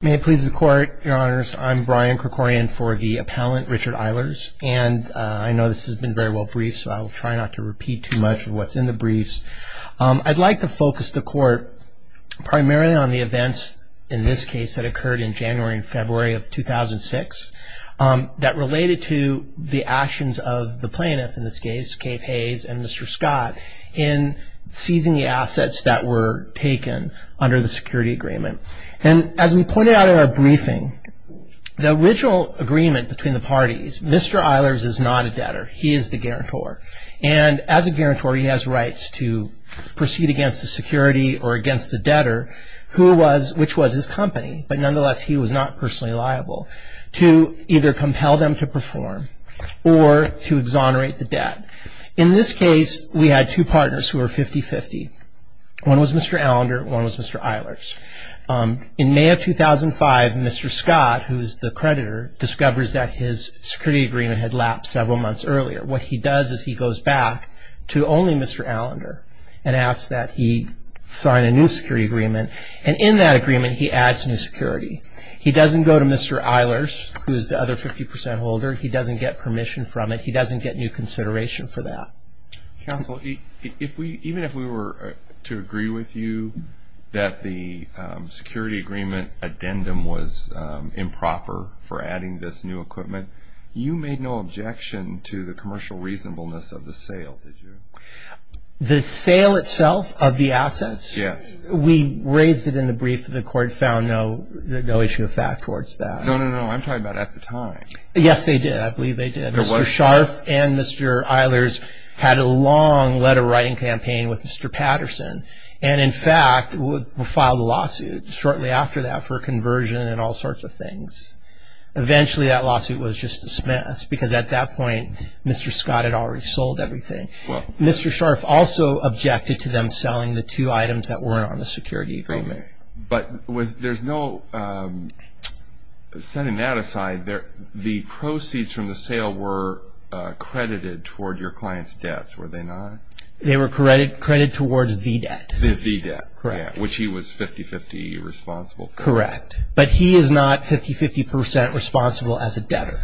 May it please the court, your honors, I'm Brian Krikorian for the appellant Richard Eilers, and I know this has been very well briefed, so I will try not to repeat too much of what's in the briefs. I'd like to focus the court primarily on the events in this case that occurred in January and February of 2006 that related to the actions of the plaintiff in this case, Kate Haze and Mr. Scott, in seizing the assets that were taken under the security agreement. And as we pointed out in our briefing, the original agreement between the parties, Mr. Eilers is not a debtor, he is the guarantor. And as a guarantor he has rights to proceed against the security or against the debtor, which was his company, but nonetheless he was not personally liable to either compel them to perform or to exonerate the debt. In this case, we had two partners who were 50-50. One was Mr. Allender, one was Mr. Eilers. In May of 2005, Mr. Scott, who is the creditor, discovers that his security agreement had lapped several months earlier. What he does is he goes back to only Mr. Allender and asks that he sign a new security agreement, and in that agreement he adds new security. He doesn't go to Mr. Eilers, who is the other 50% holder, he doesn't get permission from it, he doesn't get new consideration for that. Counsel, even if we were to agree with you that the security agreement addendum was improper for adding this new equipment, you made no objection to the commercial reasonableness of the sale, did you? The sale itself of the assets? Yes. We raised it in the brief that the court found no issue of fact towards that. No, no, no. I'm talking about at the time. Yes, they did. I believe they did. Mr. Scharf and Mr. Eilers had a long letter-writing campaign with Mr. Patterson, and in fact filed a lawsuit shortly after that for a conversion and all sorts of things. Eventually that lawsuit was just dismissed because at that point Mr. Scott had already sold everything. Mr. Scharf also objected to them selling the two items that weren't on the security agreement. But there's no – setting that aside, the proceeds from the sale were credited toward your client's debts, were they not? They were credited towards the debt. The debt. Correct. Which he was 50-50 responsible for. Correct. But he is not 50-50% responsible as a debtor.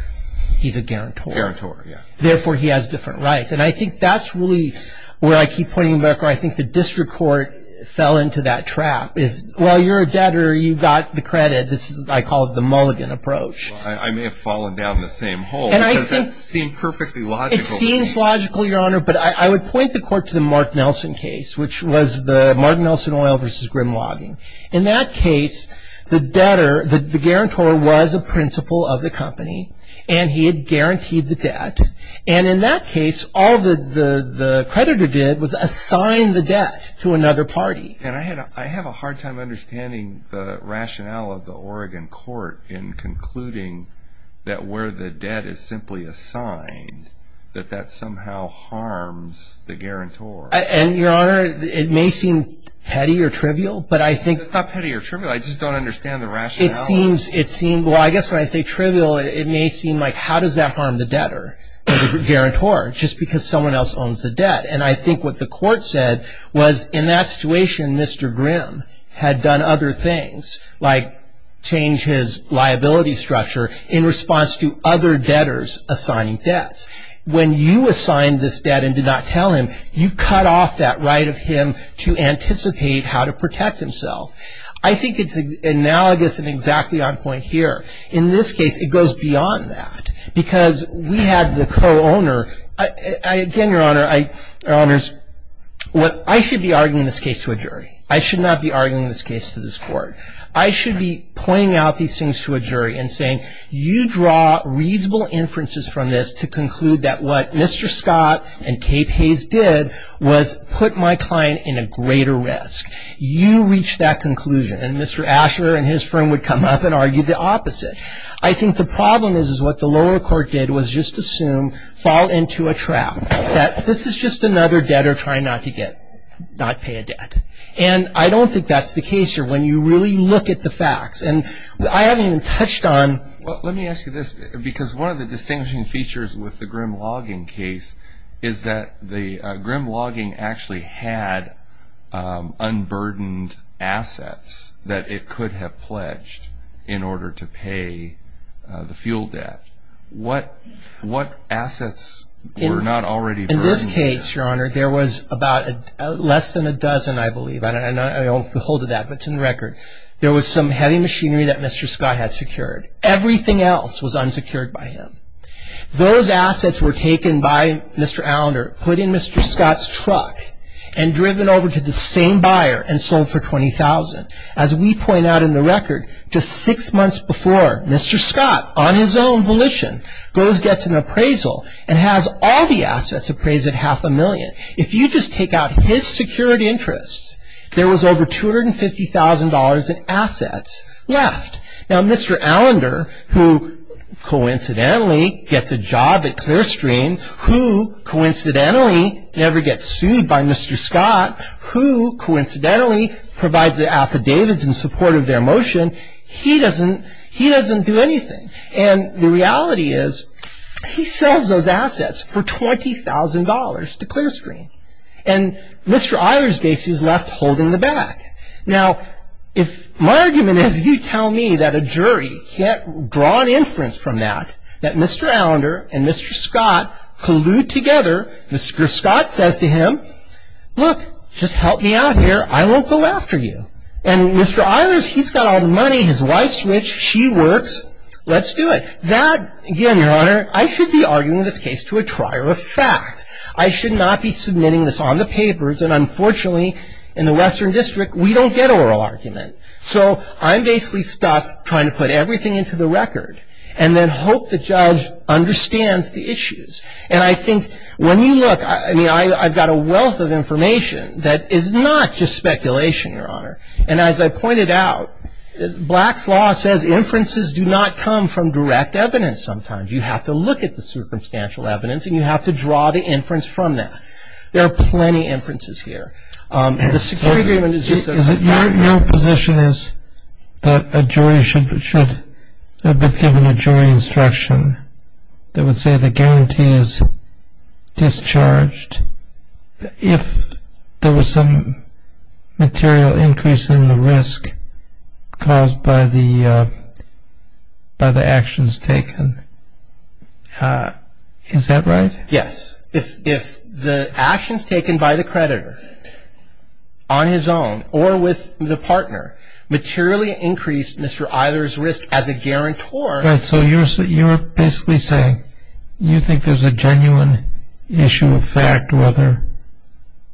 He's a guarantor. Guarantor, yes. Therefore, he has different rights. And I think that's really where I keep pointing back where I think the district court fell into that trap, is while you're a debtor, you got the credit. This is what I call the mulligan approach. I may have fallen down the same hole because that seemed perfectly logical to me. It seems logical, Your Honor, but I would point the court to the Mark Nelson case, which was the Mark Nelson Oil versus Grim Logging. In that case, the debtor – the guarantor was a principal of the company, and he had guaranteed the debt. And in that case, all the creditor did was assign the debt to another party. And I have a hard time understanding the rationale of the Oregon court in concluding that where the debt is simply assigned, that that somehow harms the guarantor. And, Your Honor, it may seem petty or trivial, but I think – It's not petty or trivial. I just don't understand the rationale. It seems – it seems – well, I guess when I say trivial, it may seem like, how does that harm the debtor or the guarantor just because someone else owns the debt? And I think what the court said was in that situation, Mr. Grim had done other things, like change his liability structure in response to other debtors assigning debts. When you assigned this debt and did not tell him, you cut off that right of him to anticipate how to protect himself. I think it's analogous and exactly on point here. In this case, it goes beyond that because we had the co-owner. Again, Your Honor, I – Your Honors, I should be arguing this case to a jury. I should not be arguing this case to this court. I should be pointing out these things to a jury and saying, you draw reasonable inferences from this to conclude that what Mr. Scott and Kate Hayes did was put my client in a greater risk. You reach that conclusion. And Mr. Asher and his firm would come up and argue the opposite. I think the problem is, is what the lower court did was just assume, fall into a trap, that this is just another debtor trying not to get – not pay a debt. And I don't think that's the case here when you really look at the facts. And I haven't even touched on – Well, let me ask you this because one of the distinguishing features with the Grimm logging case is that the Grimm logging actually had unburdened assets that it could have pledged in order to pay the fuel debt. What assets were not already burdened? In this case, Your Honor, there was about less than a dozen, I believe. There was some heavy machinery that Mr. Scott had secured. Everything else was unsecured by him. Those assets were taken by Mr. Allender, put in Mr. Scott's truck, and driven over to the same buyer and sold for $20,000. As we point out in the record, just six months before, Mr. Scott, on his own volition, goes and gets an appraisal and has all the assets appraised at half a million. If you just take out his security interests, there was over $250,000 in assets left. Now, Mr. Allender, who coincidentally gets a job at Clearstream, who coincidentally never gets sued by Mr. Scott, who coincidentally provides the affidavits in support of their motion, he doesn't do anything. And the reality is, he sells those assets for $20,000 to Clearstream. And Mr. Eilers basically is left holding the back. Now, if my argument is you tell me that a jury can't draw an inference from that, that Mr. Allender and Mr. Scott collude together, Mr. Scott says to him, look, just help me out here, I won't go after you. And Mr. Eilers, he's got all the money, his wife's rich, she works, let's do it. That, again, Your Honor, I should be arguing this case to a trier of fact. I should not be submitting this on the papers. And unfortunately, in the Western District, we don't get oral argument. So I'm basically stuck trying to put everything into the record and then hope the judge understands the issues. And I think when you look, I mean, I've got a wealth of information that is not just speculation, Your Honor. And as I pointed out, Black's Law says inferences do not come from direct evidence sometimes. You have to look at the circumstantial evidence and you have to draw the inference from that. There are plenty of inferences here. The security agreement is just a fact. Your position is that a jury should have been given a jury instruction that would say the guarantee is discharged if there was some material increase in the risk caused by the actions taken. Is that right? Yes. If the actions taken by the creditor on his own or with the partner materially increased Mr. Eilers' risk as a guarantor. So you're basically saying you think there's a genuine issue of fact whether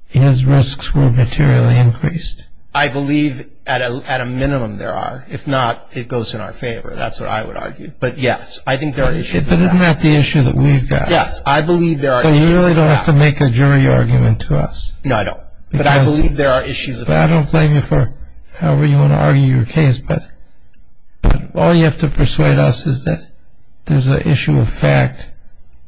his risks were materially increased. I believe at a minimum there are. If not, it goes in our favor. That's what I would argue. But yes, I think there are issues of that. But isn't that the issue that we've got? Yes, I believe there are issues of that. But you really don't have to make a jury argument to us. No, I don't. But I believe there are issues of that. I don't blame you for however you want to argue your case. But all you have to persuade us is that there's an issue of fact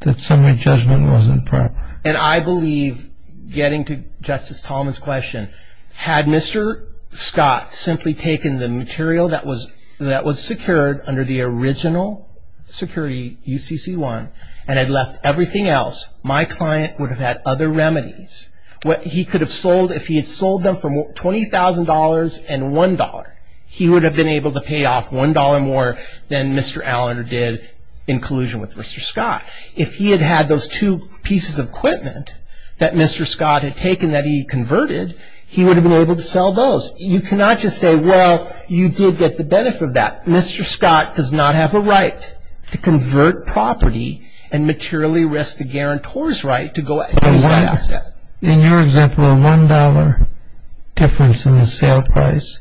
that some of your judgment wasn't proper. And I believe getting to Justice Tolman's question, had Mr. Scott simply taken the material that was secured under the original security, UCC-1, and had left everything else, my client would have had other remedies. He could have sold, if he had sold them for $20,000 and $1, he would have been able to pay off $1 more than Mr. Allender did in collusion with Mr. Scott. If he had had those two pieces of equipment that Mr. Scott had taken that he converted, he would have been able to sell those. You cannot just say, well, you did get the benefit of that. Mr. Scott does not have a right to convert property and materially risk the guarantor's right to go after that asset. In your example, a $1 difference in the sale price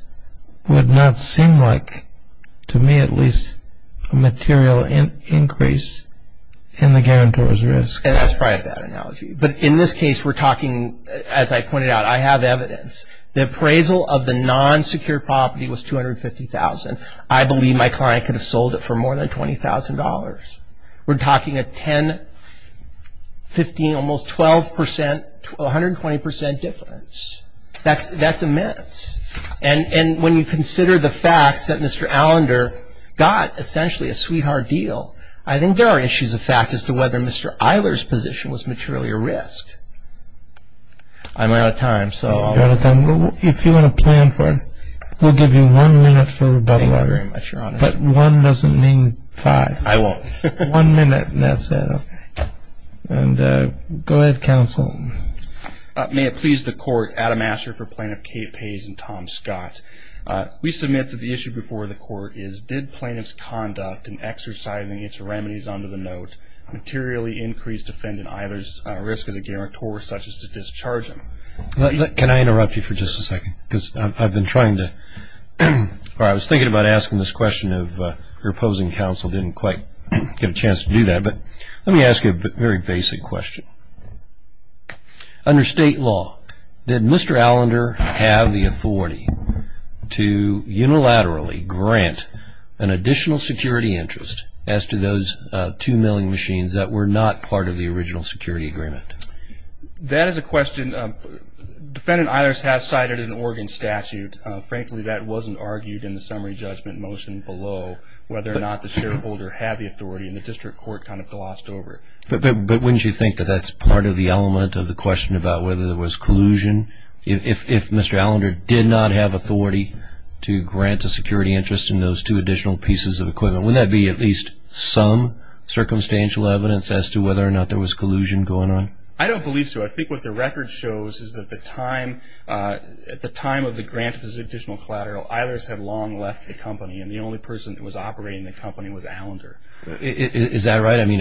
would not seem like, to me at least, a material increase in the guarantor's risk. And that's probably a bad analogy. But in this case, we're talking, as I pointed out, I have evidence. The appraisal of the non-secured property was $250,000. I believe my client could have sold it for more than $20,000. We're talking a 10, 15, almost 12%, 120% difference. That's immense. And when you consider the facts that Mr. Allender got essentially a sweetheart deal, I think there are issues of fact as to whether Mr. Eiler's position was materially at risk. I'm out of time, so I'll let you go. You're out of time. If you want to plan for it, we'll give you one minute for rebuttal. Thank you very much, Your Honor. But one doesn't mean five. I won't. One minute, and that's it. Go ahead, counsel. May it please the Court, Adam Asher for Plaintiff Kate Pays and Tom Scott. We submit that the issue before the Court is, did plaintiff's conduct in exercising its remedies under the note materially increase defendant Eiler's risk as a guarantor, such as to discharge him? Can I interrupt you for just a second? Because I've been trying to, or I was thinking about asking this question of your opposing counsel didn't quite get a chance to do that. But let me ask you a very basic question. Under state law, did Mr. Allender have the authority to unilaterally grant an additional security interest as to those two milling machines that were not part of the original security agreement? That is a question defendant Eiler's has cited in an Oregon statute. Frankly, that wasn't argued in the summary judgment motion below, whether or not the shareholder had the authority, and the district court kind of glossed over it. But wouldn't you think that that's part of the element of the question about whether there was collusion? If Mr. Allender did not have authority to grant a security interest in those two additional pieces of equipment, wouldn't that be at least some circumstantial evidence as to whether or not there was collusion going on? I don't believe so. I think what the record shows is that at the time of the grant of this additional collateral, Eiler's had long left the company, and the only person that was operating the company was Allender. Is that right? I mean,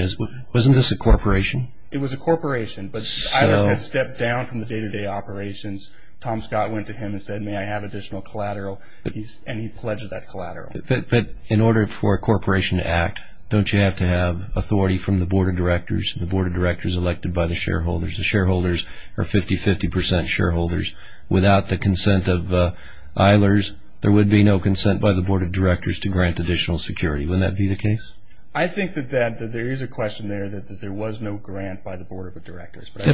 wasn't this a corporation? It was a corporation. But Eiler's had stepped down from the day-to-day operations. Tom Scott went to him and said, may I have additional collateral? And he pledged that collateral. But in order for a corporation to act, don't you have to have authority from the board of directors and the board of directors elected by the shareholders? The shareholders are 50-50% shareholders. Without the consent of Eiler's, there would be no consent by the board of directors to grant additional security. Wouldn't that be the case? I think that there is a question there that there was no grant by the board of directors. Was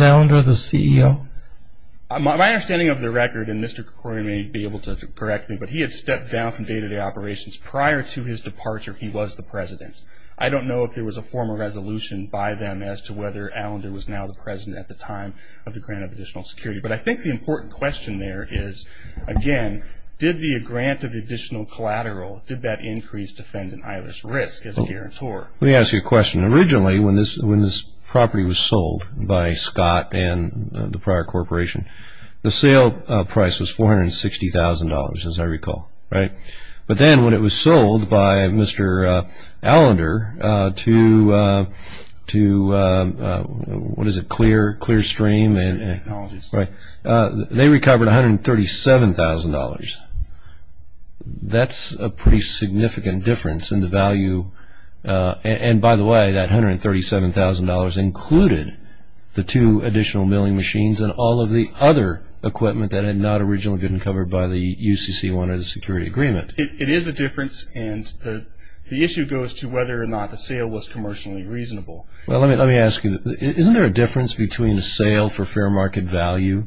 Allender the CEO? My understanding of the record, and Mr. Kroger may be able to correct me, but he had stepped down from day-to-day operations. Prior to his departure, he was the president. I don't know if there was a formal resolution by them as to whether Allender was now the president at the time of the grant of additional security. But I think the important question there is, again, did the grant of additional collateral, did that increase defendant Eiler's risk as a guarantor? Let me ask you a question. Originally, when this property was sold by Scott and the prior corporation, the sale price was $460,000, as I recall. But then when it was sold by Mr. Allender to Clearstream, they recovered $137,000. That's a pretty significant difference in the value. And, by the way, that $137,000 included the two additional milling machines and all of the other equipment that had not originally been covered by the UCC under the security agreement. It is a difference, and the issue goes to whether or not the sale was commercially reasonable. Well, let me ask you, isn't there a difference between a sale for fair market value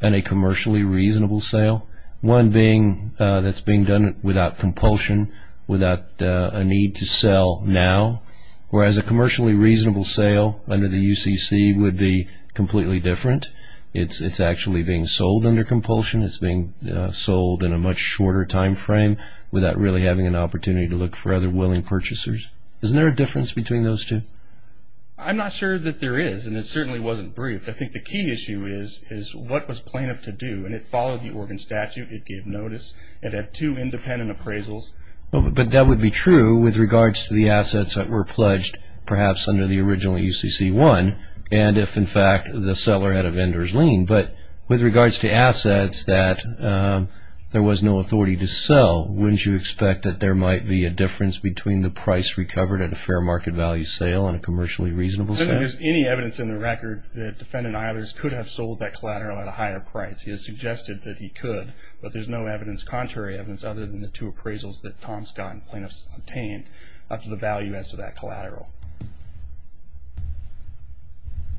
and a commercially reasonable sale? One being that's being done without compulsion, without a need to sell now, whereas a commercially reasonable sale under the UCC would be completely different. It's actually being sold under compulsion. It's being sold in a much shorter time frame without really having an opportunity to look for other willing purchasers. Isn't there a difference between those two? I'm not sure that there is, and it certainly wasn't briefed. I think the key issue is what was plaintiff to do, and it followed the Oregon statute. It gave notice. It had two independent appraisals. But that would be true with regards to the assets that were pledged, perhaps under the original UCC-1, and if, in fact, the seller had a vendor's lien. But with regards to assets that there was no authority to sell, wouldn't you expect that there might be a difference between the price recovered at a fair market value sale and a commercially reasonable sale? I don't think there's any evidence in the record that defendant Eilers could have sold that collateral at a higher price. He has suggested that he could, but there's no evidence, contrary evidence, other than the two appraisals that Tom Scott and plaintiffs obtained up to the value as to that collateral.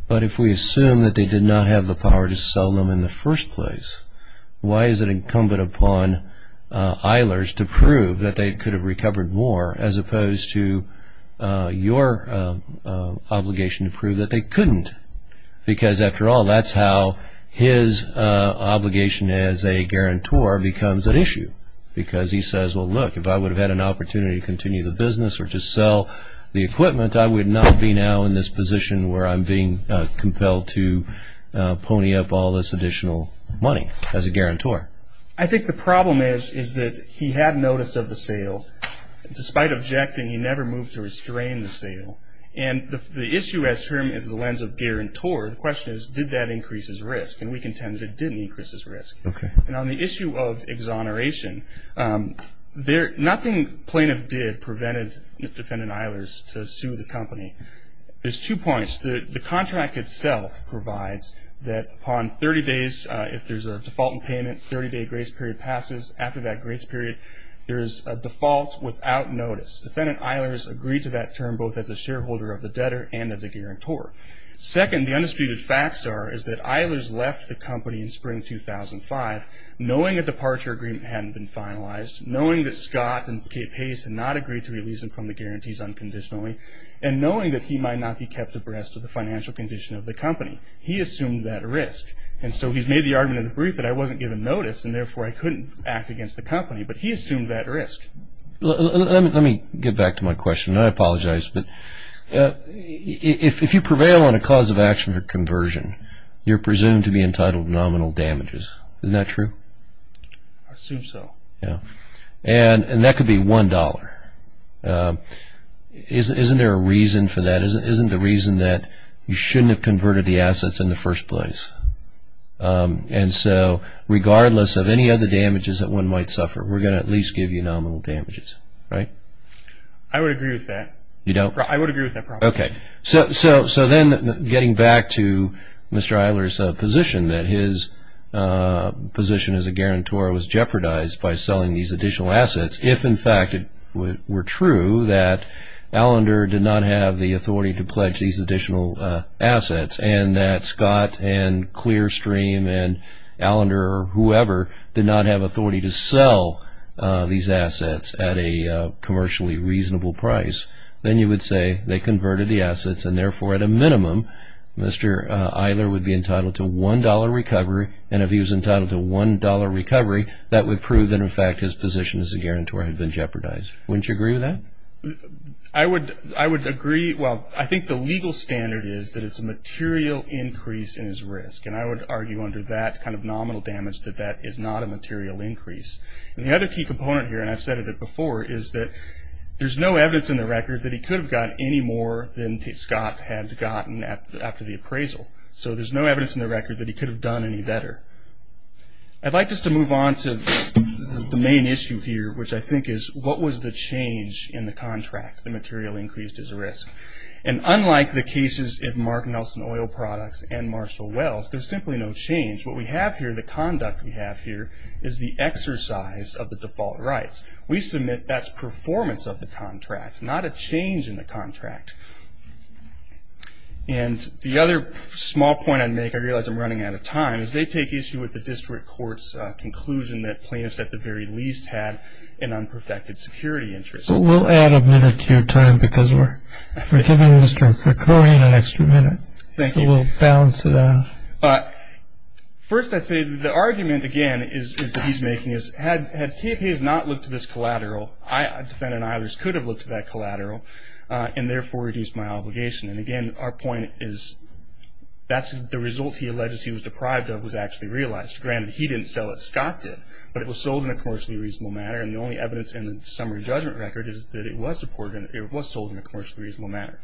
But if we assume that they did not have the power to sell them in the first place, why is it incumbent upon Eilers to prove that they could have recovered more as opposed to your obligation to prove that they couldn't? Because, after all, that's how his obligation as a guarantor becomes an issue, because he says, well, look, if I would have had an opportunity to continue the business or to sell the equipment, I would not be now in this position where I'm being compelled to pony up all this additional money as a guarantor. I think the problem is that he had notice of the sale. Despite objecting, he never moved to restrain the sale. And the issue, as termed, is the lens of guarantor. The question is, did that increase his risk? And we contend that it didn't increase his risk. And on the issue of exoneration, nothing plaintiff did prevented Defendant Eilers to sue the company. There's two points. The contract itself provides that upon 30 days, if there's a default in payment, 30-day grace period passes. After that grace period, there is a default without notice. Defendant Eilers agreed to that term both as a shareholder of the debtor and as a guarantor. Second, the undisputed facts are is that Eilers left the company in spring 2005, knowing a departure agreement hadn't been finalized, knowing that Scott and Kate Pace had not agreed to release him from the guarantees unconditionally, and knowing that he might not be kept abreast of the financial condition of the company. He assumed that risk. And so he's made the argument in the brief that I wasn't given notice, and therefore I couldn't act against the company. But he assumed that risk. Let me get back to my question. I apologize. If you prevail on a cause of action or conversion, you're presumed to be entitled to nominal damages. Isn't that true? I assume so. And that could be $1. Isn't there a reason for that? Isn't there a reason that you shouldn't have converted the assets in the first place? And so regardless of any other damages that one might suffer, we're going to at least give you nominal damages, right? I would agree with that. You don't? I would agree with that proposition. Okay. So then getting back to Mr. Isler's position, that his position as a guarantor was jeopardized by selling these additional assets, if, in fact, it were true that Allender did not have the authority to pledge these additional assets and that Scott and Clearstream and Allender or whoever did not have authority to sell these assets at a commercially reasonable price, then you would say they converted the assets and therefore at a minimum Mr. Isler would be entitled to $1 recovery. And if he was entitled to $1 recovery, that would prove that in fact his position as a guarantor had been jeopardized. Wouldn't you agree with that? I would agree. Well, I think the legal standard is that it's a material increase in his risk. And I would argue under that kind of nominal damage that that is not a material increase. And the other key component here, and I've said it before, is that there's no evidence in the record that he could have gotten any more than Scott had gotten after the appraisal. So there's no evidence in the record that he could have done any better. I'd like just to move on to the main issue here, which I think is, what was the change in the contract, the material increase as a risk? And unlike the cases in Mark Nelson Oil Products and Marshall Wells, there's simply no change. What we have here, the conduct we have here, is the exercise of the default rights. We submit that's performance of the contract, not a change in the contract. And the other small point I'd make, I realize I'm running out of time, is they take issue with the district court's conclusion that plaintiffs, at the very least, had an unperfected security interest. We'll add a minute to your time because we're giving Mr. Krikorian an extra minute. Thank you. So we'll balance it out. First, I'd say the argument, again, is that he's making is, had KPAs not looked to this collateral, a defendant and I just could have looked to that collateral, and therefore reduced my obligation. And, again, our point is that's the result he alleges he was deprived of was actually realized. Granted, he didn't sell it, Scott did, but it was sold in a commercially reasonable manner, and the only evidence in the summary judgment record is that it was supported and it was sold in a commercially reasonable manner.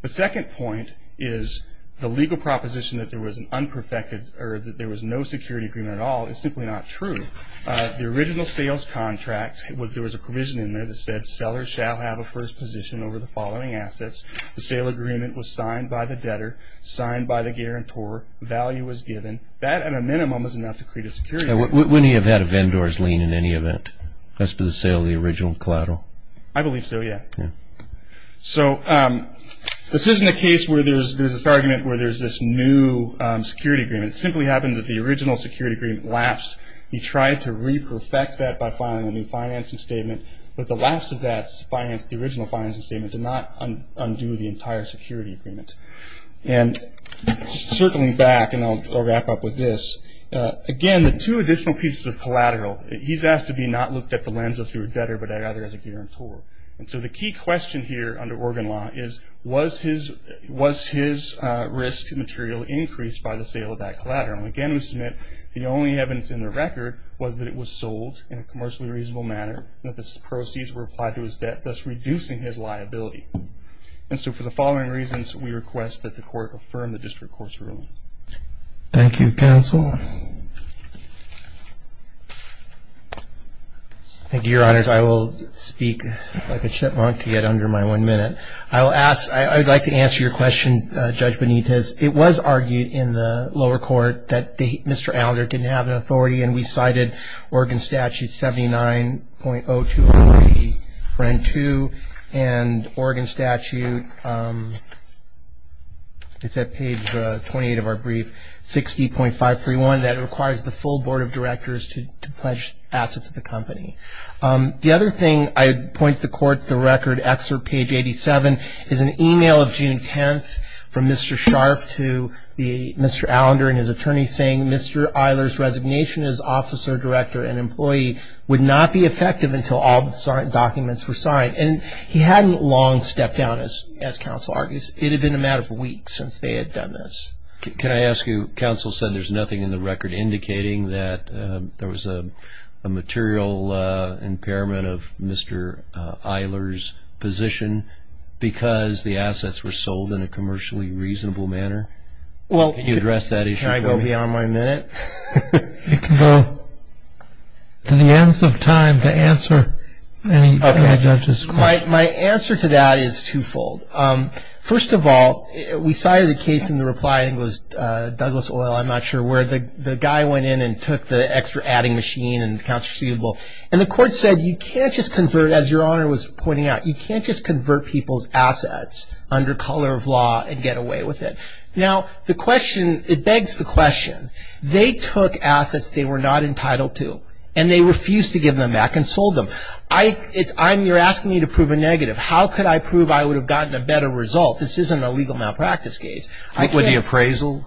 The second point is the legal proposition that there was an unperfected or that there was no security agreement at all is simply not true. The original sales contract, there was a provision in there that said, sellers shall have a first position over the following assets. The sale agreement was signed by the debtor, signed by the guarantor, value was given. That, at a minimum, is enough to create a security agreement. Wouldn't he have had a vendor's lien in any event as to the sale of the original collateral? I believe so, yeah. So this isn't a case where there's this argument where there's this new security agreement. It simply happened that the original security agreement lapsed. He tried to re-perfect that by filing a new financing statement, but the lapse of that financing, the original financing statement, did not undo the entire security agreement. And circling back, and I'll wrap up with this, again, the two additional pieces of collateral, he's asked to be not looked at the lens of through a debtor, but rather as a guarantor. And so the key question here under Oregon law is, was his risk material increased by the sale of that collateral? Again, we submit the only evidence in the record was that it was sold in a commercially reasonable manner, and that the proceeds were applied to his debt, thus reducing his liability. And so for the following reasons, we request that the court affirm the district court's ruling. Thank you, counsel. Thank you, Your Honors. I will speak like a chipmunk to get under my one minute. I will ask, I would like to answer your question, Judge Benitez. It was argued in the lower court that Mr. Allender didn't have the authority, and we cited Oregon Statute 79.0203.2. And Oregon Statute, it's at page 28 of our brief, 60.531, that requires the full board of directors to pledge assets to the company. The other thing, I point to the court, the record excerpt, page 87, is an e-mail of June 10th from Mr. Scharf to Mr. Allender and his attorney saying, Mr. Eiler's resignation as officer, director, and employee would not be effective until all the documents were signed. And he hadn't long stepped down, as counsel argues. It had been a matter of weeks since they had done this. Can I ask you, counsel said there's nothing in the record indicating that there was a material impairment of Mr. Eiler's position because the assets were sold in a commercially reasonable manner. Can you address that issue for me? Can I go beyond my minute? You can go to the ends of time to answer any of the judge's questions. My answer to that is twofold. First of all, we cited a case in the reply, I think it was Douglas Oil, I'm not sure where, the guy went in and took the extra adding machine and the counterfeitable, and the court said you can't just convert, as your honor was pointing out, you can't just convert people's assets under color of law and get away with it. Now, the question, it begs the question, they took assets they were not entitled to and they refused to give them back and sold them. I'm, you're asking me to prove a negative. How could I prove I would have gotten a better result? This isn't a legal malpractice case. What would the appraisal?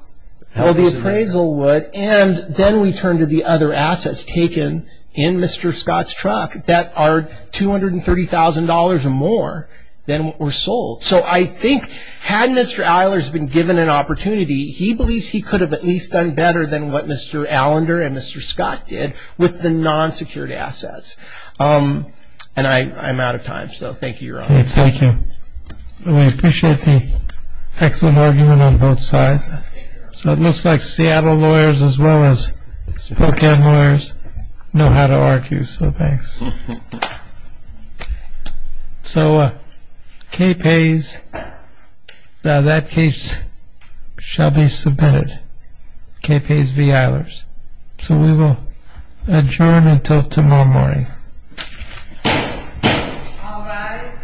Well, the appraisal would, and then we turn to the other assets taken in Mr. Scott's truck that are $230,000 or more than were sold. So I think had Mr. Eiler's been given an opportunity, he believes he could have at least done better than what Mr. Allender and Mr. Scott did with the non-secured assets. And I'm out of time, so thank you, Your Honor. Thank you. We appreciate the excellent argument on both sides. So it looks like Seattle lawyers as well as Spokane lawyers know how to argue, so thanks. So K-Pays, that case shall be submitted, K-Pays v. Eilers. So we will adjourn until tomorrow morning. All rise.